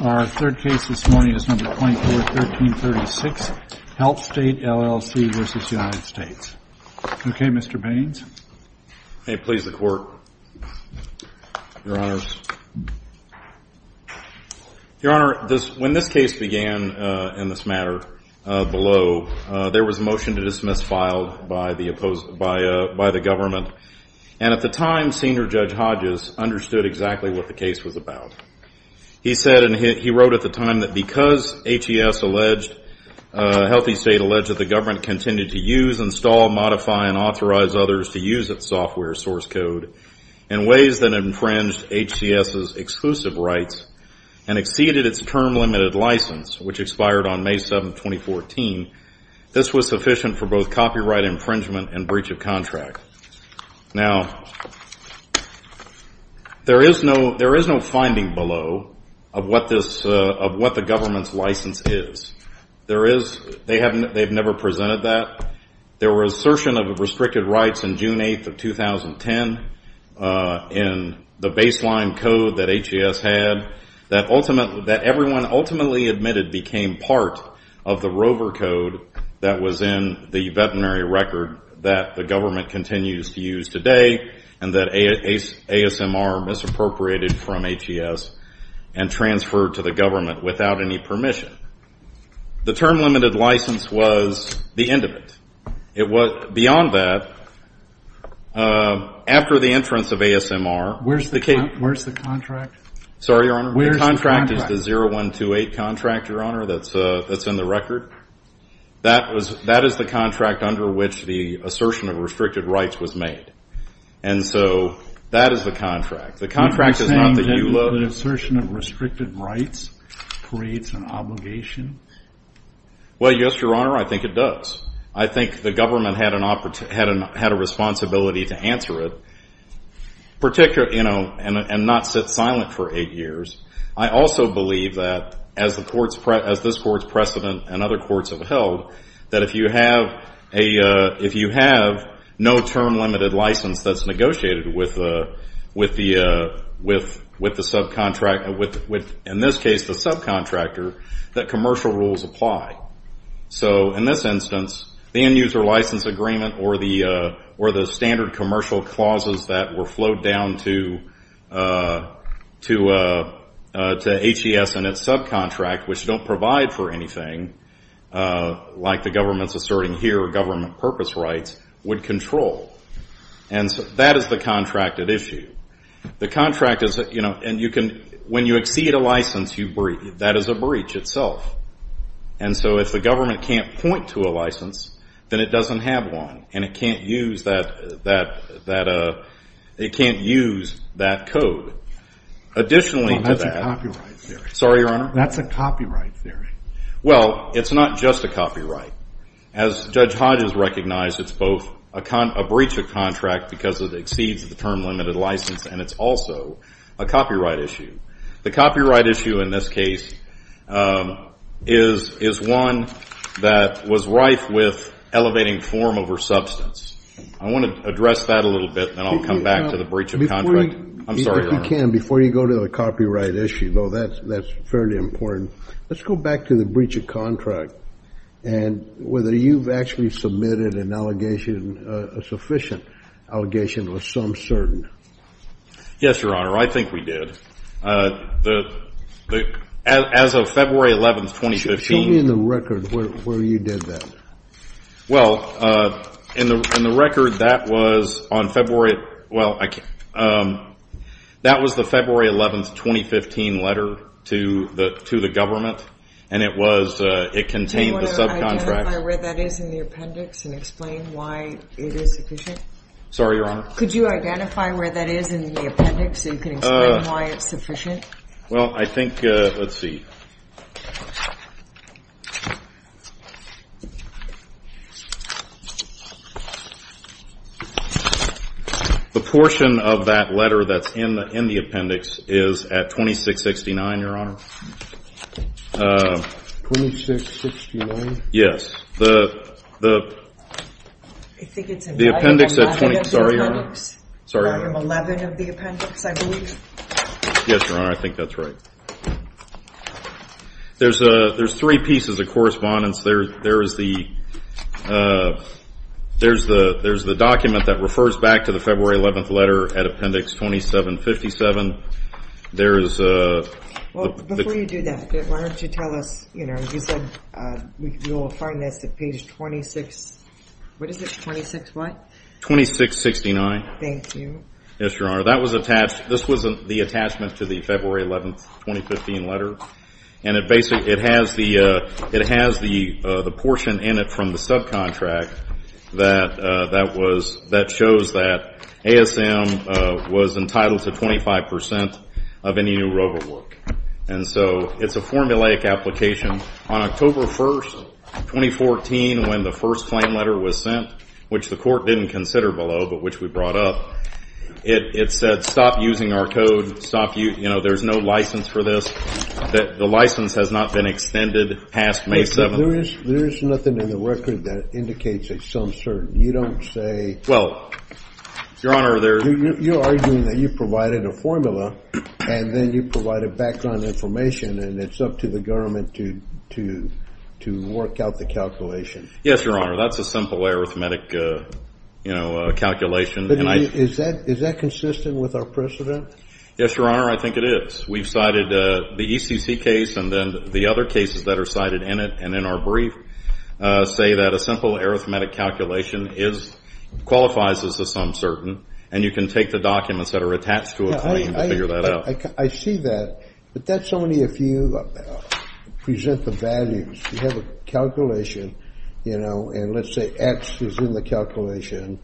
Your Honor, when this case began in this matter below, there was a motion to dismiss filed by the government, and at the time Senior Judge Hodges understood exactly what the case was about. He said, and he wrote at the time, that because HCS alleged, Healthy State alleged that the government continued to use, install, modify, and authorize others to use its software source code in ways that infringed HCS's exclusive rights and exceeded its term limited license, which expired on May 7, 2014, this was sufficient for both copyright infringement and breach of contract. Now, there is no finding below of what the government's license is. There is, they have never presented that. There were assertions of restricted rights on June 8, 2010, in the baseline code that HCS had, that everyone ultimately admitted became part of the rover code that was in the veterinary record that the government continues to use today, and that ASMR misappropriated from HCS and transferred to the government without any permission. The term limited license was the end of it. It was, beyond that, after the entrance of ASMR, the case, sorry Your Honor, the contract is the 0128 contract, Your Honor, that's in the record. That is the contract under which the assertion of restricted rights was made. And so, that is the contract. The contract is not that you loathed. Are you saying that the assertion of restricted rights creates an obligation? Well, yes, Your Honor, I think it does. I think the government had a responsibility to answer it, and not sit silent for eight years. I also believe that, as this Court's precedent and other courts have held, that if you have no term limited license that's negotiated with the subcontractor, in this case the subcontractor, that commercial rules apply. So in this instance, the end user license agreement or the standard commercial clauses that were flowed down to HES and its subcontract, which don't provide for anything, like the government's asserting here, government purpose rights, would control. And so, that is the contracted issue. The contract is, you know, and you can, when you exceed a license, that is a breach itself. And so, if the government can't point to a license, then it doesn't have one. And it can't use that, that, that, it can't use that code. Additionally, to that. Well, that's a copyright theory. Sorry, Your Honor? That's a copyright theory. Well, it's not just a copyright. As Judge Hodges recognized, it's both a breach of contract because it exceeds the term limited license, and it's also a copyright issue. The copyright issue in this case is, is one that was rife with elevating form over substance. I want to address that a little bit, and then I'll come back to the breach of contract. Before you, if you can, before you go to the copyright issue, though, that's, that's fairly important. Let's go back to the breach of contract and whether you've actually submitted an allegation, a sufficient allegation or some certain. Yes, Your Honor. I think we did. The, as of February 11th, 2015. Show me in the record where you did that. Well, in the record, that was on February, well, that was the February 11th, 2015 letter to the, to the government, and it was, it contained the subcontract. Do you want to identify where that is in the appendix and explain why it is sufficient? Sorry, Your Honor? Could you identify where that is in the appendix so you can explain why it's sufficient? Well, I think, let's see. The portion of that letter that's in the, in the appendix is at 2669, Your Honor. 2669? Yes. The, the. I think it's in. The appendix at. I think it's in the appendix. Sorry, Your Honor. Item 11 of the appendix, I believe. Yes, Your Honor, I think that's right. There's, there's three pieces of correspondence. There, there is the, there's the, there's the document that refers back to the February 11th letter at appendix 2757. There is. Well, before you do that, why don't you tell us, you know, you said we will find this at appendix 26. What is it? 26 what? 2669. Thank you. Yes, Your Honor. That was attached. This was the attachment to the February 11th, 2015 letter. And it basically, it has the, it has the, the portion in it from the subcontract that, that was, that shows that ASM was entitled to 25% of any new robo work. And so it's a formulaic application. On October 1st, 2014, when the first claim letter was sent, which the court didn't consider below, but which we brought up, it, it said, stop using our code. Stop, you know, there's no license for this. The license has not been extended past May 7th. There is, there is nothing in the record that indicates it's some certain. You don't say. Well, Your Honor, there. You're arguing that you provided a formula, and then you provided background information, and it's up to the government to, to, to work out the calculation. Yes, Your Honor. That's a simple arithmetic, you know, calculation. Is that, is that consistent with our precedent? Yes, Your Honor, I think it is. We've cited the ECC case and then the other cases that are cited in it and in our brief say that a simple arithmetic calculation is, qualifies as a some certain, and you can take the documents that are attached to a claim to figure that out. I see that, but that's only if you present the values. You have a calculation, you know, and let's say X is in the calculation.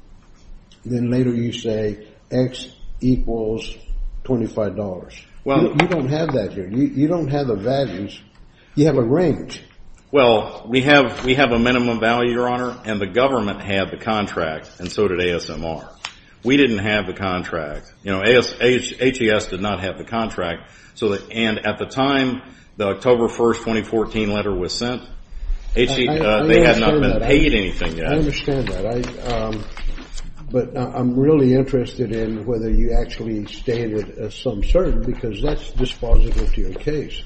Then later you say X equals $25. Well. You don't have that here. You don't have the values. You have a range. Well, we have, we have a minimum value, Your Honor, and the government had the contract, and so did ASMR. We didn't have the contract. You know, HES did not have the contract, and at the time the October 1, 2014 letter was sent, they had not been paid anything yet. I understand that, but I'm really interested in whether you actually stand with a some certain because that's dispositive to your case.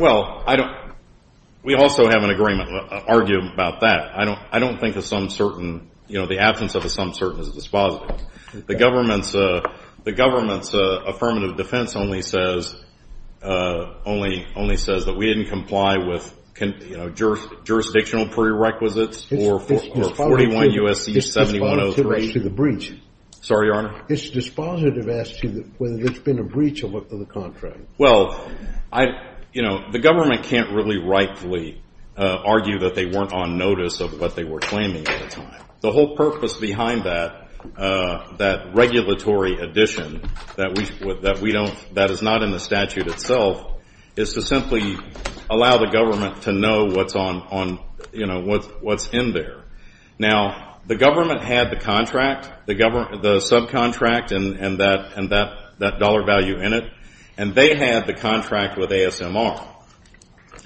Well, I don't, we also have an agreement, an argument about that. I don't think a some certain, you know, the absence of a some certain is dispositive. The government's affirmative defense only says that we didn't comply with, you know, jurisdictional prerequisites or 41 U.S.C. 7103. It's dispositive as to the breach. Sorry, Your Honor? It's dispositive as to whether there's been a breach of the contract. Well, you know, the government can't really rightfully argue that they weren't on notice of what they were claiming at the time. The whole purpose behind that, that regulatory addition that we don't, that is not in the statute itself, is to simply allow the government to know what's on, you know, what's in there. Now, the government had the contract, the subcontract and that dollar value in it, and they had the contract with ASMR.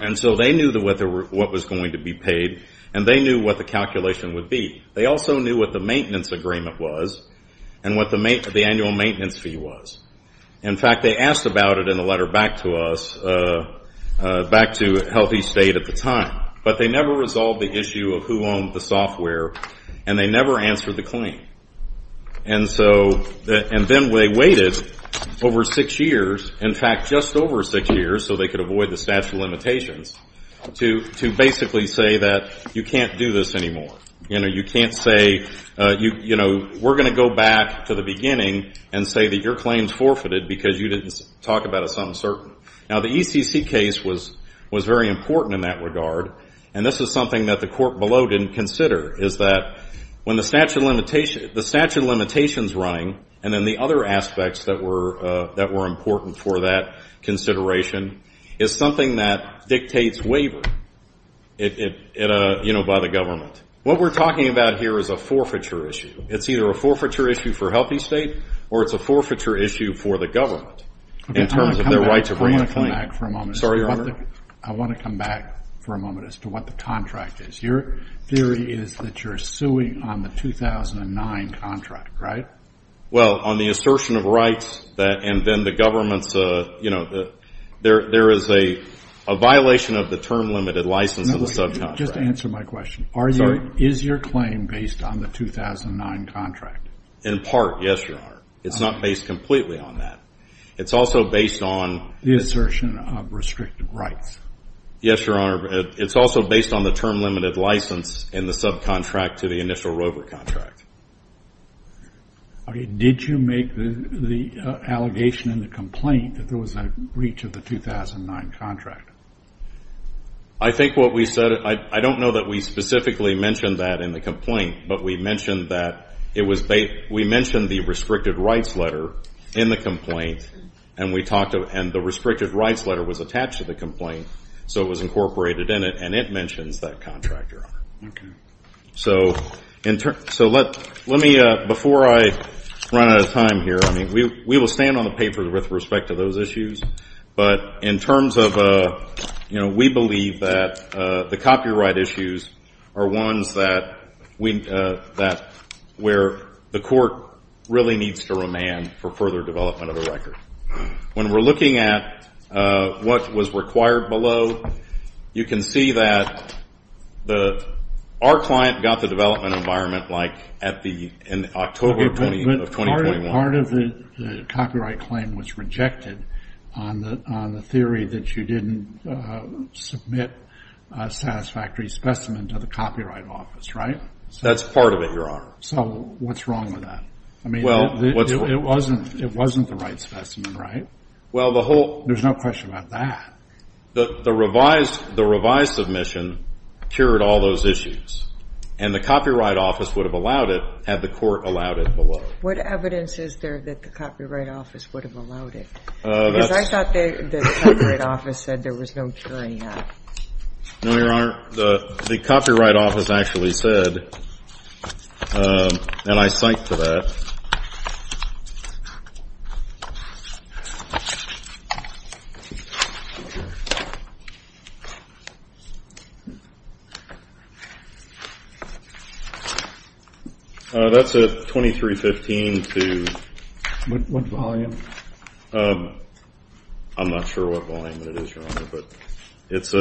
And so they knew what was going to be paid, and they knew what the calculation would be. They also knew what the maintenance agreement was and what the annual maintenance fee was. In fact, they asked about it in a letter back to us, back to Healthy State at the time. But they never resolved the issue of who owned the software, and they never answered the claim. And so, and then they waited over six years, in fact, just over six years, so they could avoid the statute of limitations, to basically say that you can't do this anymore. You know, you can't say, you know, we're going to go back to the beginning and say that your claim is forfeited because you didn't talk about a sum certain. Now, the ECC case was very important in that regard, and this is something that the court below didn't consider, is that when the statute of limitations running, and then the other aspects that were important for that consideration, is something that dictates waiver, you know, by the government. What we're talking about here is a forfeiture issue. It's either a forfeiture issue for Healthy State or it's a forfeiture issue for the government in terms of their right to bring a claim. I want to come back for a moment. Sorry, Your Honor. I want to come back for a moment as to what the contract is. Your theory is that you're suing on the 2009 contract, right? Well, on the assertion of rights and then the government's, you know, there is a violation of the term limited license in the subcontract. Just answer my question. Sorry. Is your claim based on the 2009 contract? In part, yes, Your Honor. It's not based completely on that. It's also based on... The assertion of restricted rights. Yes, Your Honor. It's also based on the term limited license in the subcontract to the initial rover contract. Did you make the allegation in the complaint that there was a breach of the 2009 contract? I think what we said... I don't know that we specifically mentioned that in the complaint, but we mentioned that it was... We mentioned the restricted rights letter in the complaint, and we talked... And the restricted rights letter was attached to the complaint, so it was incorporated in it, and it mentions that contract, Your Honor. Okay. So let me... Before I run out of time here, I mean, we will stand on the paper with respect to those issues, but in terms of, you know, we believe that the copyright issues are ones that we... where the court really needs to remand for further development of a record. When we're looking at what was required below, you can see that our client got the development environment like in October of 2021. Okay, but part of the copyright claim was rejected on the theory that you didn't submit a satisfactory specimen to the Copyright Office, right? That's part of it, Your Honor. So what's wrong with that? I mean, it wasn't the right specimen, right? Well, the whole... There's no question about that. The revised submission cured all those issues, and the Copyright Office would have allowed it had the court allowed it below. What evidence is there that the Copyright Office would have allowed it? Because I thought the Copyright Office said there was no curing that. No, Your Honor. The Copyright Office actually said, and I cite to that... That's a 2315 to... What volume? I'm not sure what volume it is, Your Honor, but it's...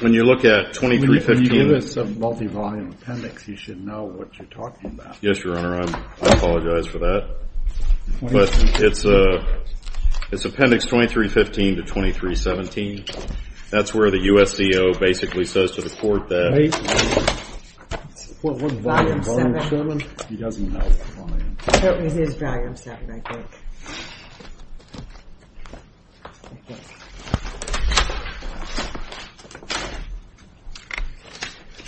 When you look at 2315... When you give us a multivolume appendix, you should know what you're talking about. Yes, Your Honor, I apologize for that. But it's Appendix 2315 to 2317. That's where the USDO basically says to the court that... What volume? He doesn't know. It is volume 7, I think.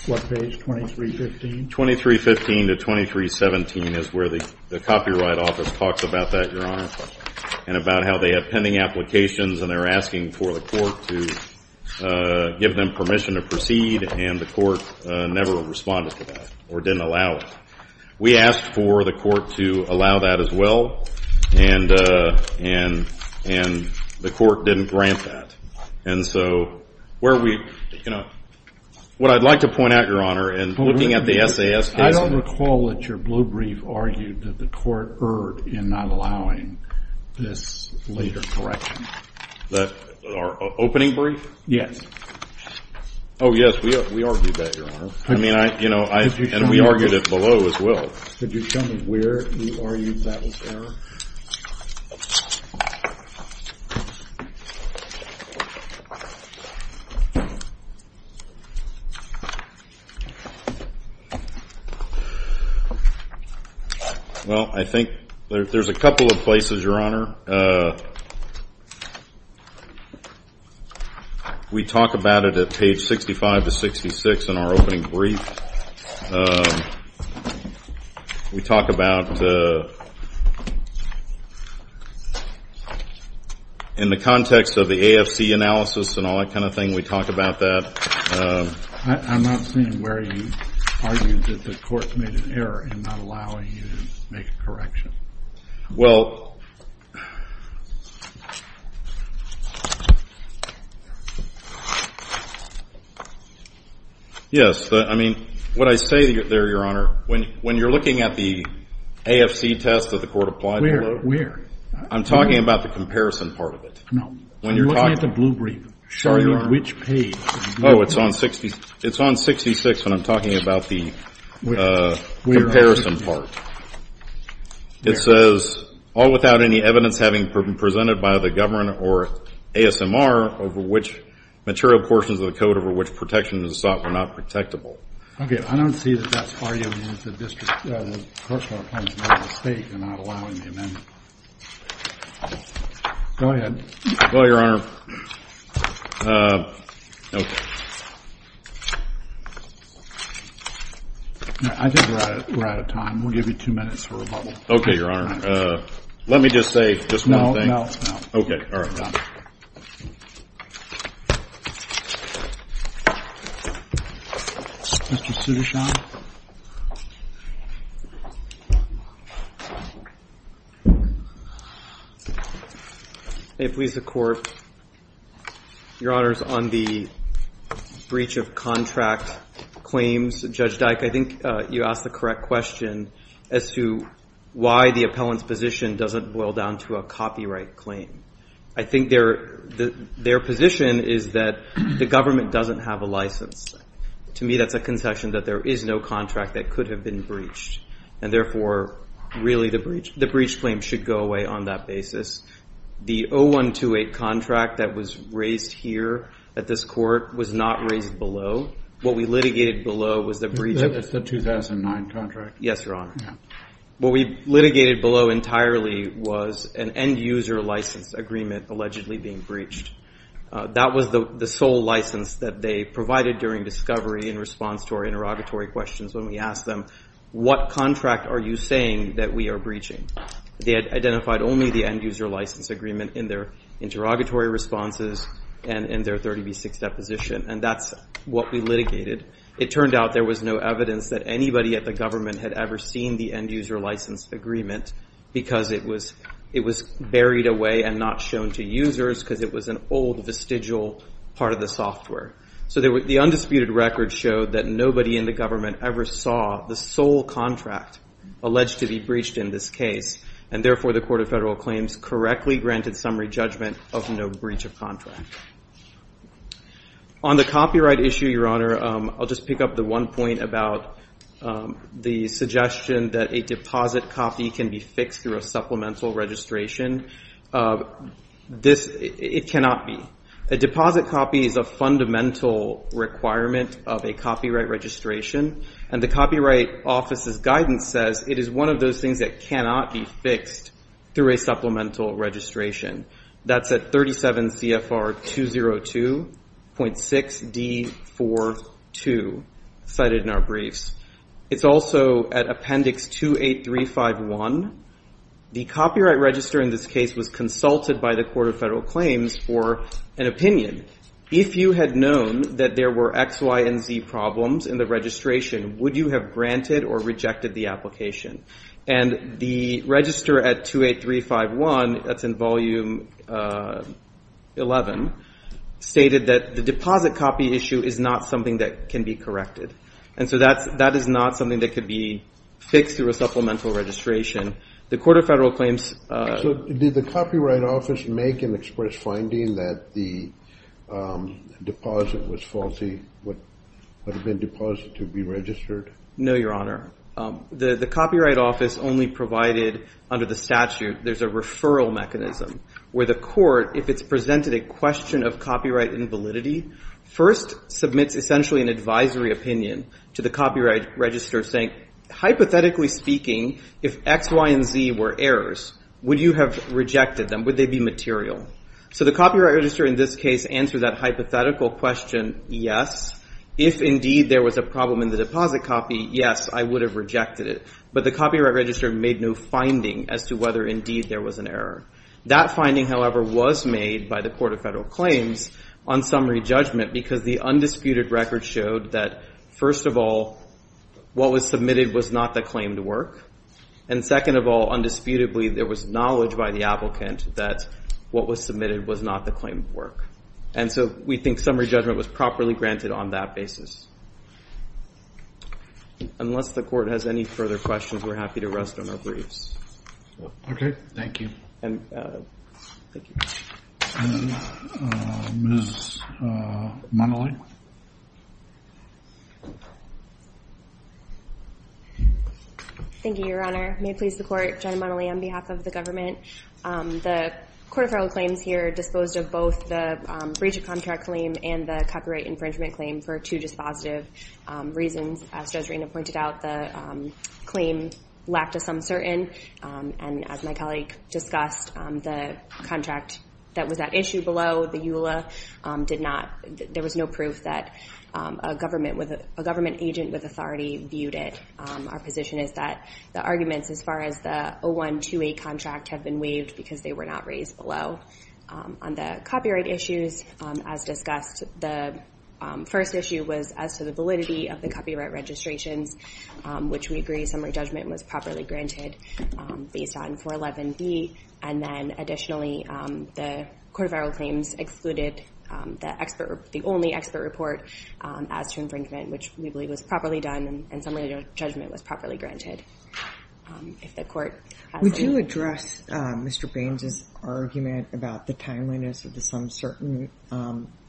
What page, 2315? 2315 to 2317 is where the Copyright Office talks about that, Your Honor, and about how they have pending applications, and they're asking for the court to give them permission to proceed, and the court never responded to that or didn't allow it. We asked for the court to allow that as well, and the court didn't grant that. And so where we... I don't recall that your blue brief argued that the court erred in not allowing this later correction. Our opening brief? Yes. Oh, yes, we argued that, Your Honor, and we argued it below as well. Could you show me where you argued that was error? Well, I think there's a couple of places, Your Honor. We talk about it at page 65 to 66 in our opening brief. We talk about... In the context of the AFC analysis and all that kind of thing, we talk about that. I'm not seeing where you argued that the court made an error in not allowing you to make a correction. Well... Yes, I mean, what I say there, Your Honor, when you're looking at the AFC test that the court applied below... Where? Where? I'm talking about the comparison part of it. No. When you're talking... You're looking at the blue brief. Sorry, Your Honor. Which page? Oh, it's on 66 when I'm talking about the comparison part. It says, All without any evidence having been presented by the governor or ASMR over which material portions of the code over which protection is sought were not protectable. Okay, I don't see that that's arguing that the district... The court filed a mistake in not allowing the amendment. Go ahead. Well, Your Honor. Okay. I think we're out of time. We'll give you two minutes for rebuttal. Okay, Your Honor. Let me just say just one thing. No, no, no. Okay, all right. Mr. Sudarshan. May it please the Court. Your Honor, on the breach of contract claims, Judge Dyke, I think you asked the correct question as to why the appellant's position doesn't boil down to a copyright claim. I think their position is that the government doesn't have a license. To me, that's a concession that there is no license. And therefore, really, the breach claim should go away on that basis. The 0128 contract that was raised here at this court was not raised below. What we litigated below was the breach of... That's the 2009 contract. Yes, Your Honor. Yeah. What we litigated below entirely was an end-user license agreement allegedly being breached. That was the sole license that they provided during discovery in response to our interrogatory questions when we asked them, what contract are you saying that we are breaching? They had identified only the end-user license agreement in their interrogatory responses and in their 30B6 deposition. And that's what we litigated. It turned out there was no evidence that anybody at the government had ever seen the end-user license agreement because it was buried away and not shown to users because it was an old, vestigial part of the software. So the undisputed record showed that nobody in the government ever saw the sole contract alleged to be breached in this case. And therefore, the Court of Federal Claims correctly granted summary judgment of no breach of contract. On the copyright issue, Your Honor, I'll just pick up the one point about the suggestion that a deposit copy can be found and can be fixed through a supplemental registration. It cannot be. A deposit copy is a fundamental requirement of a copyright registration. And the Copyright Office's guidance says it is one of those things that cannot be fixed through a supplemental registration. That's at 37 CFR 202.6D42 cited in our briefs. It's also at Appendix 28351. The copyright register in this case was consulted by the Court of Federal Claims for an opinion. If you had known that there were X, Y, and Z problems in the registration, would you have granted or rejected the application? And the register at 28351, that's in Volume 11, stated that the deposit copy issue is not something that can be corrected. And so that is not something that could be fixed through a supplemental registration. The Court of Federal Claims... So did the Copyright Office make an express finding that the deposit was faulty? Would it have been deposited to be registered? No, Your Honor. The Copyright Office only provided, under the statute, there's a referral mechanism where the court, if it's presented a question of copyright invalidity, first submits essentially an advisory opinion to the copyright register saying, hypothetically speaking, if X, Y, and Z were errors, would you have rejected them? Would they be material? So the copyright register in this case answered that hypothetical question, yes. If, indeed, there was a problem in the deposit copy, yes, I would have rejected it. But the copyright register made no finding as to whether, indeed, there was an error. That finding, however, was made by the Court of Federal Claims on summary judgment because the undisputed record showed that, first of all, what was submitted was not the claimed work. And second of all, undisputedly, there was knowledge by the applicant that what was submitted was not the claimed work. And so we think summary judgment was properly granted on that basis. Unless the Court has any further questions, we're happy to rest on our briefs. Okay, thank you. Thank you. Ms. Monelly? Thank you, Your Honor. May it please the Court, Jenna Monelly on behalf of the government. The Court of Federal Claims here disposed of both the breach of contract claim and the copyright infringement claim for two dispositive reasons. As Joserena pointed out, the claim lacked a sum certain. And as my colleague discussed, the contract that was at issue below, the EULA, there was no proof that a government agent with authority viewed it. Our position is that the arguments as far as the 0128 contract have been waived because they were not raised below. On the copyright issues, as discussed, the first issue was as to the validity of the copyright registrations, which we agree summary judgment was properly granted based on 411B. And then additionally, the Court of Federal Claims excluded the only expert report as to infringement, which we believe was properly done and summary judgment was properly granted. Would you address Mr. Baines' argument about the timeliness of the sum certain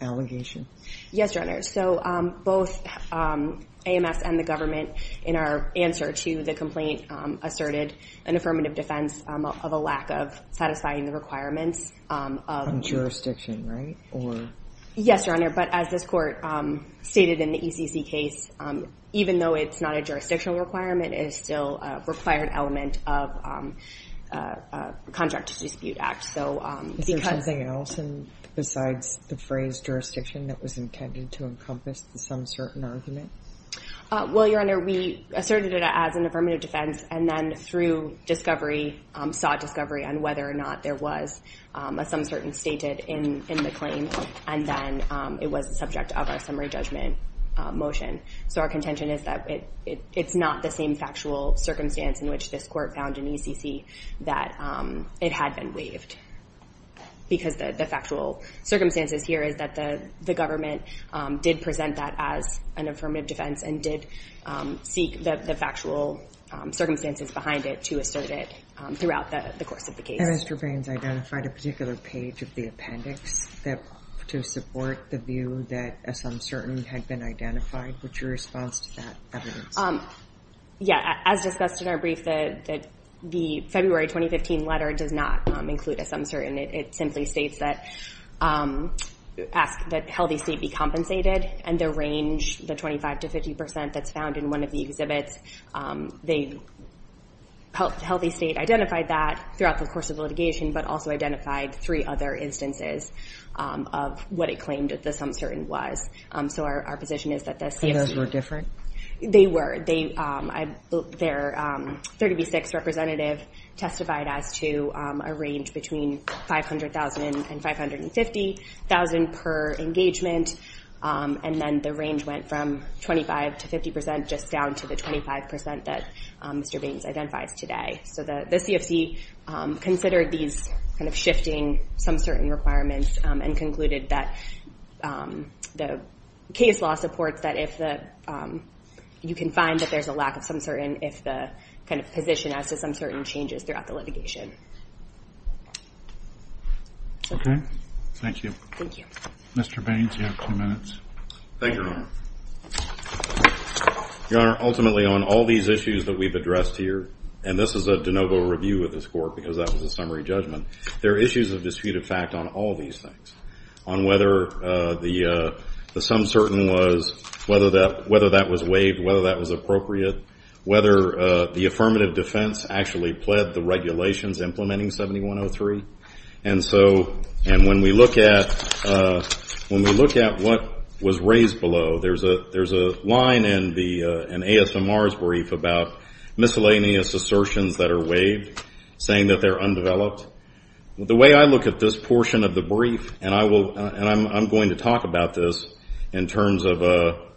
allegation? Yes, Your Honor. So both AMS and the government, in our answer to the complaint, asserted an affirmative defense of a lack of satisfying the requirements. On jurisdiction, right? Yes, Your Honor. But as this Court stated in the ECC case, even though it's not a jurisdictional requirement, it is still a required element of contract dispute act. Is there something else besides the phrase jurisdiction that was intended to encompass the sum certain argument? Well, Your Honor, we asserted it as an affirmative defense and then through discovery, sought discovery on whether or not there was a sum certain stated in the claim, and then it was the subject of our summary judgment motion. So our contention is that it's not the same factual circumstance in which this Court found in ECC that it had been waived because the factual circumstances here is that the government did present that as an affirmative defense and did seek the factual circumstances behind it to assert it throughout the course of the case. And Mr. Baines identified a particular page of the appendix to support the view that a sum certain had been identified. What's your response to that evidence? Yeah, as discussed in our brief, the February 2015 letter does not include a sum certain. It simply states that healthy state be compensated, and the range, the 25% to 50% that's found in one of the exhibits, healthy state identified that throughout the course of litigation but also identified three other instances of what it claimed that the sum certain was. So our position is that the sum certain... They were. Their 30B6 representative testified as to a range between $500,000 and $550,000 per engagement, and then the range went from 25% to 50% just down to the 25% that Mr. Baines identifies today. So the CFC considered these kind of shifting sum certain requirements and concluded that the case law supports that you can find that there's a lack of sum certain if the position as to sum certain changes throughout the litigation. Okay. Thank you. Thank you. Mr. Baines, you have two minutes. Thank you, Your Honor. Your Honor, ultimately on all these issues that we've addressed here, and this is a de novo review of this court because that was a summary judgment, there are issues of disputed fact on all these things, on whether the sum certain was, whether that was waived, whether that was appropriate, whether the affirmative defense actually pled the regulations implementing 7103. And when we look at what was raised below, there's a line in ASMR's brief about miscellaneous assertions that are waived, saying that they're undeveloped. The way I look at this portion of the brief, and I'm going to talk about this in terms of,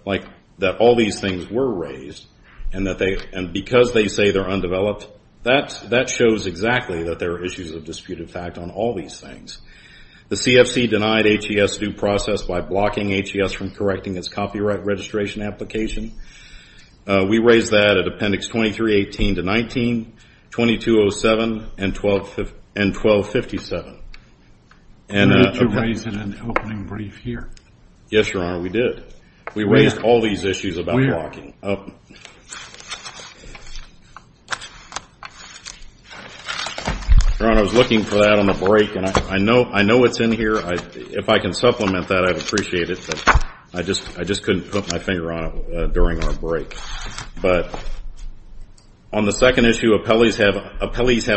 like, that all these things were raised and because they say they're undeveloped, that shows exactly that there are issues of disputed fact on all these things. The CFC denied HES due process by blocking HES from correcting its copyright registration application. We raised that at Appendix 2318-19, 2207, and 1257. Yes, Your Honor, we did. We raised all these issues about blocking. Your Honor, I was looking for that on the break, and I know it's in here. If I can supplement that, I'd appreciate it, but I just couldn't put my finger on it during our break. But on the second issue, appellees have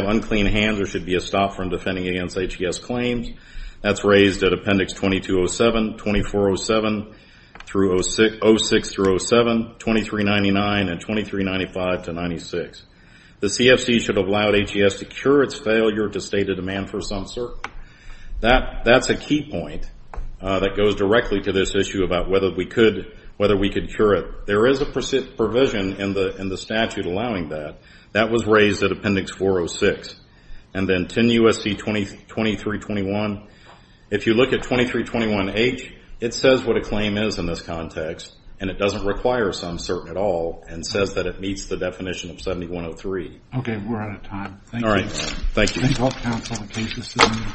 unclean hands or should be stopped from defending against HES claims. That's raised at Appendix 2207, 2407, 06-07, 2399, and 2395-96. The CFC should have allowed HES to cure its failure to state a demand for some cert. That's a key point that goes directly to this issue about whether we could cure it. There is a provision in the statute allowing that. That was raised at Appendix 406. And then 10 U.S.C. 2321, if you look at 2321-H, it says what a claim is in this context, and it doesn't require some cert at all and says that it meets the definition of 7103. Okay, we're out of time. Thank you. Thank you.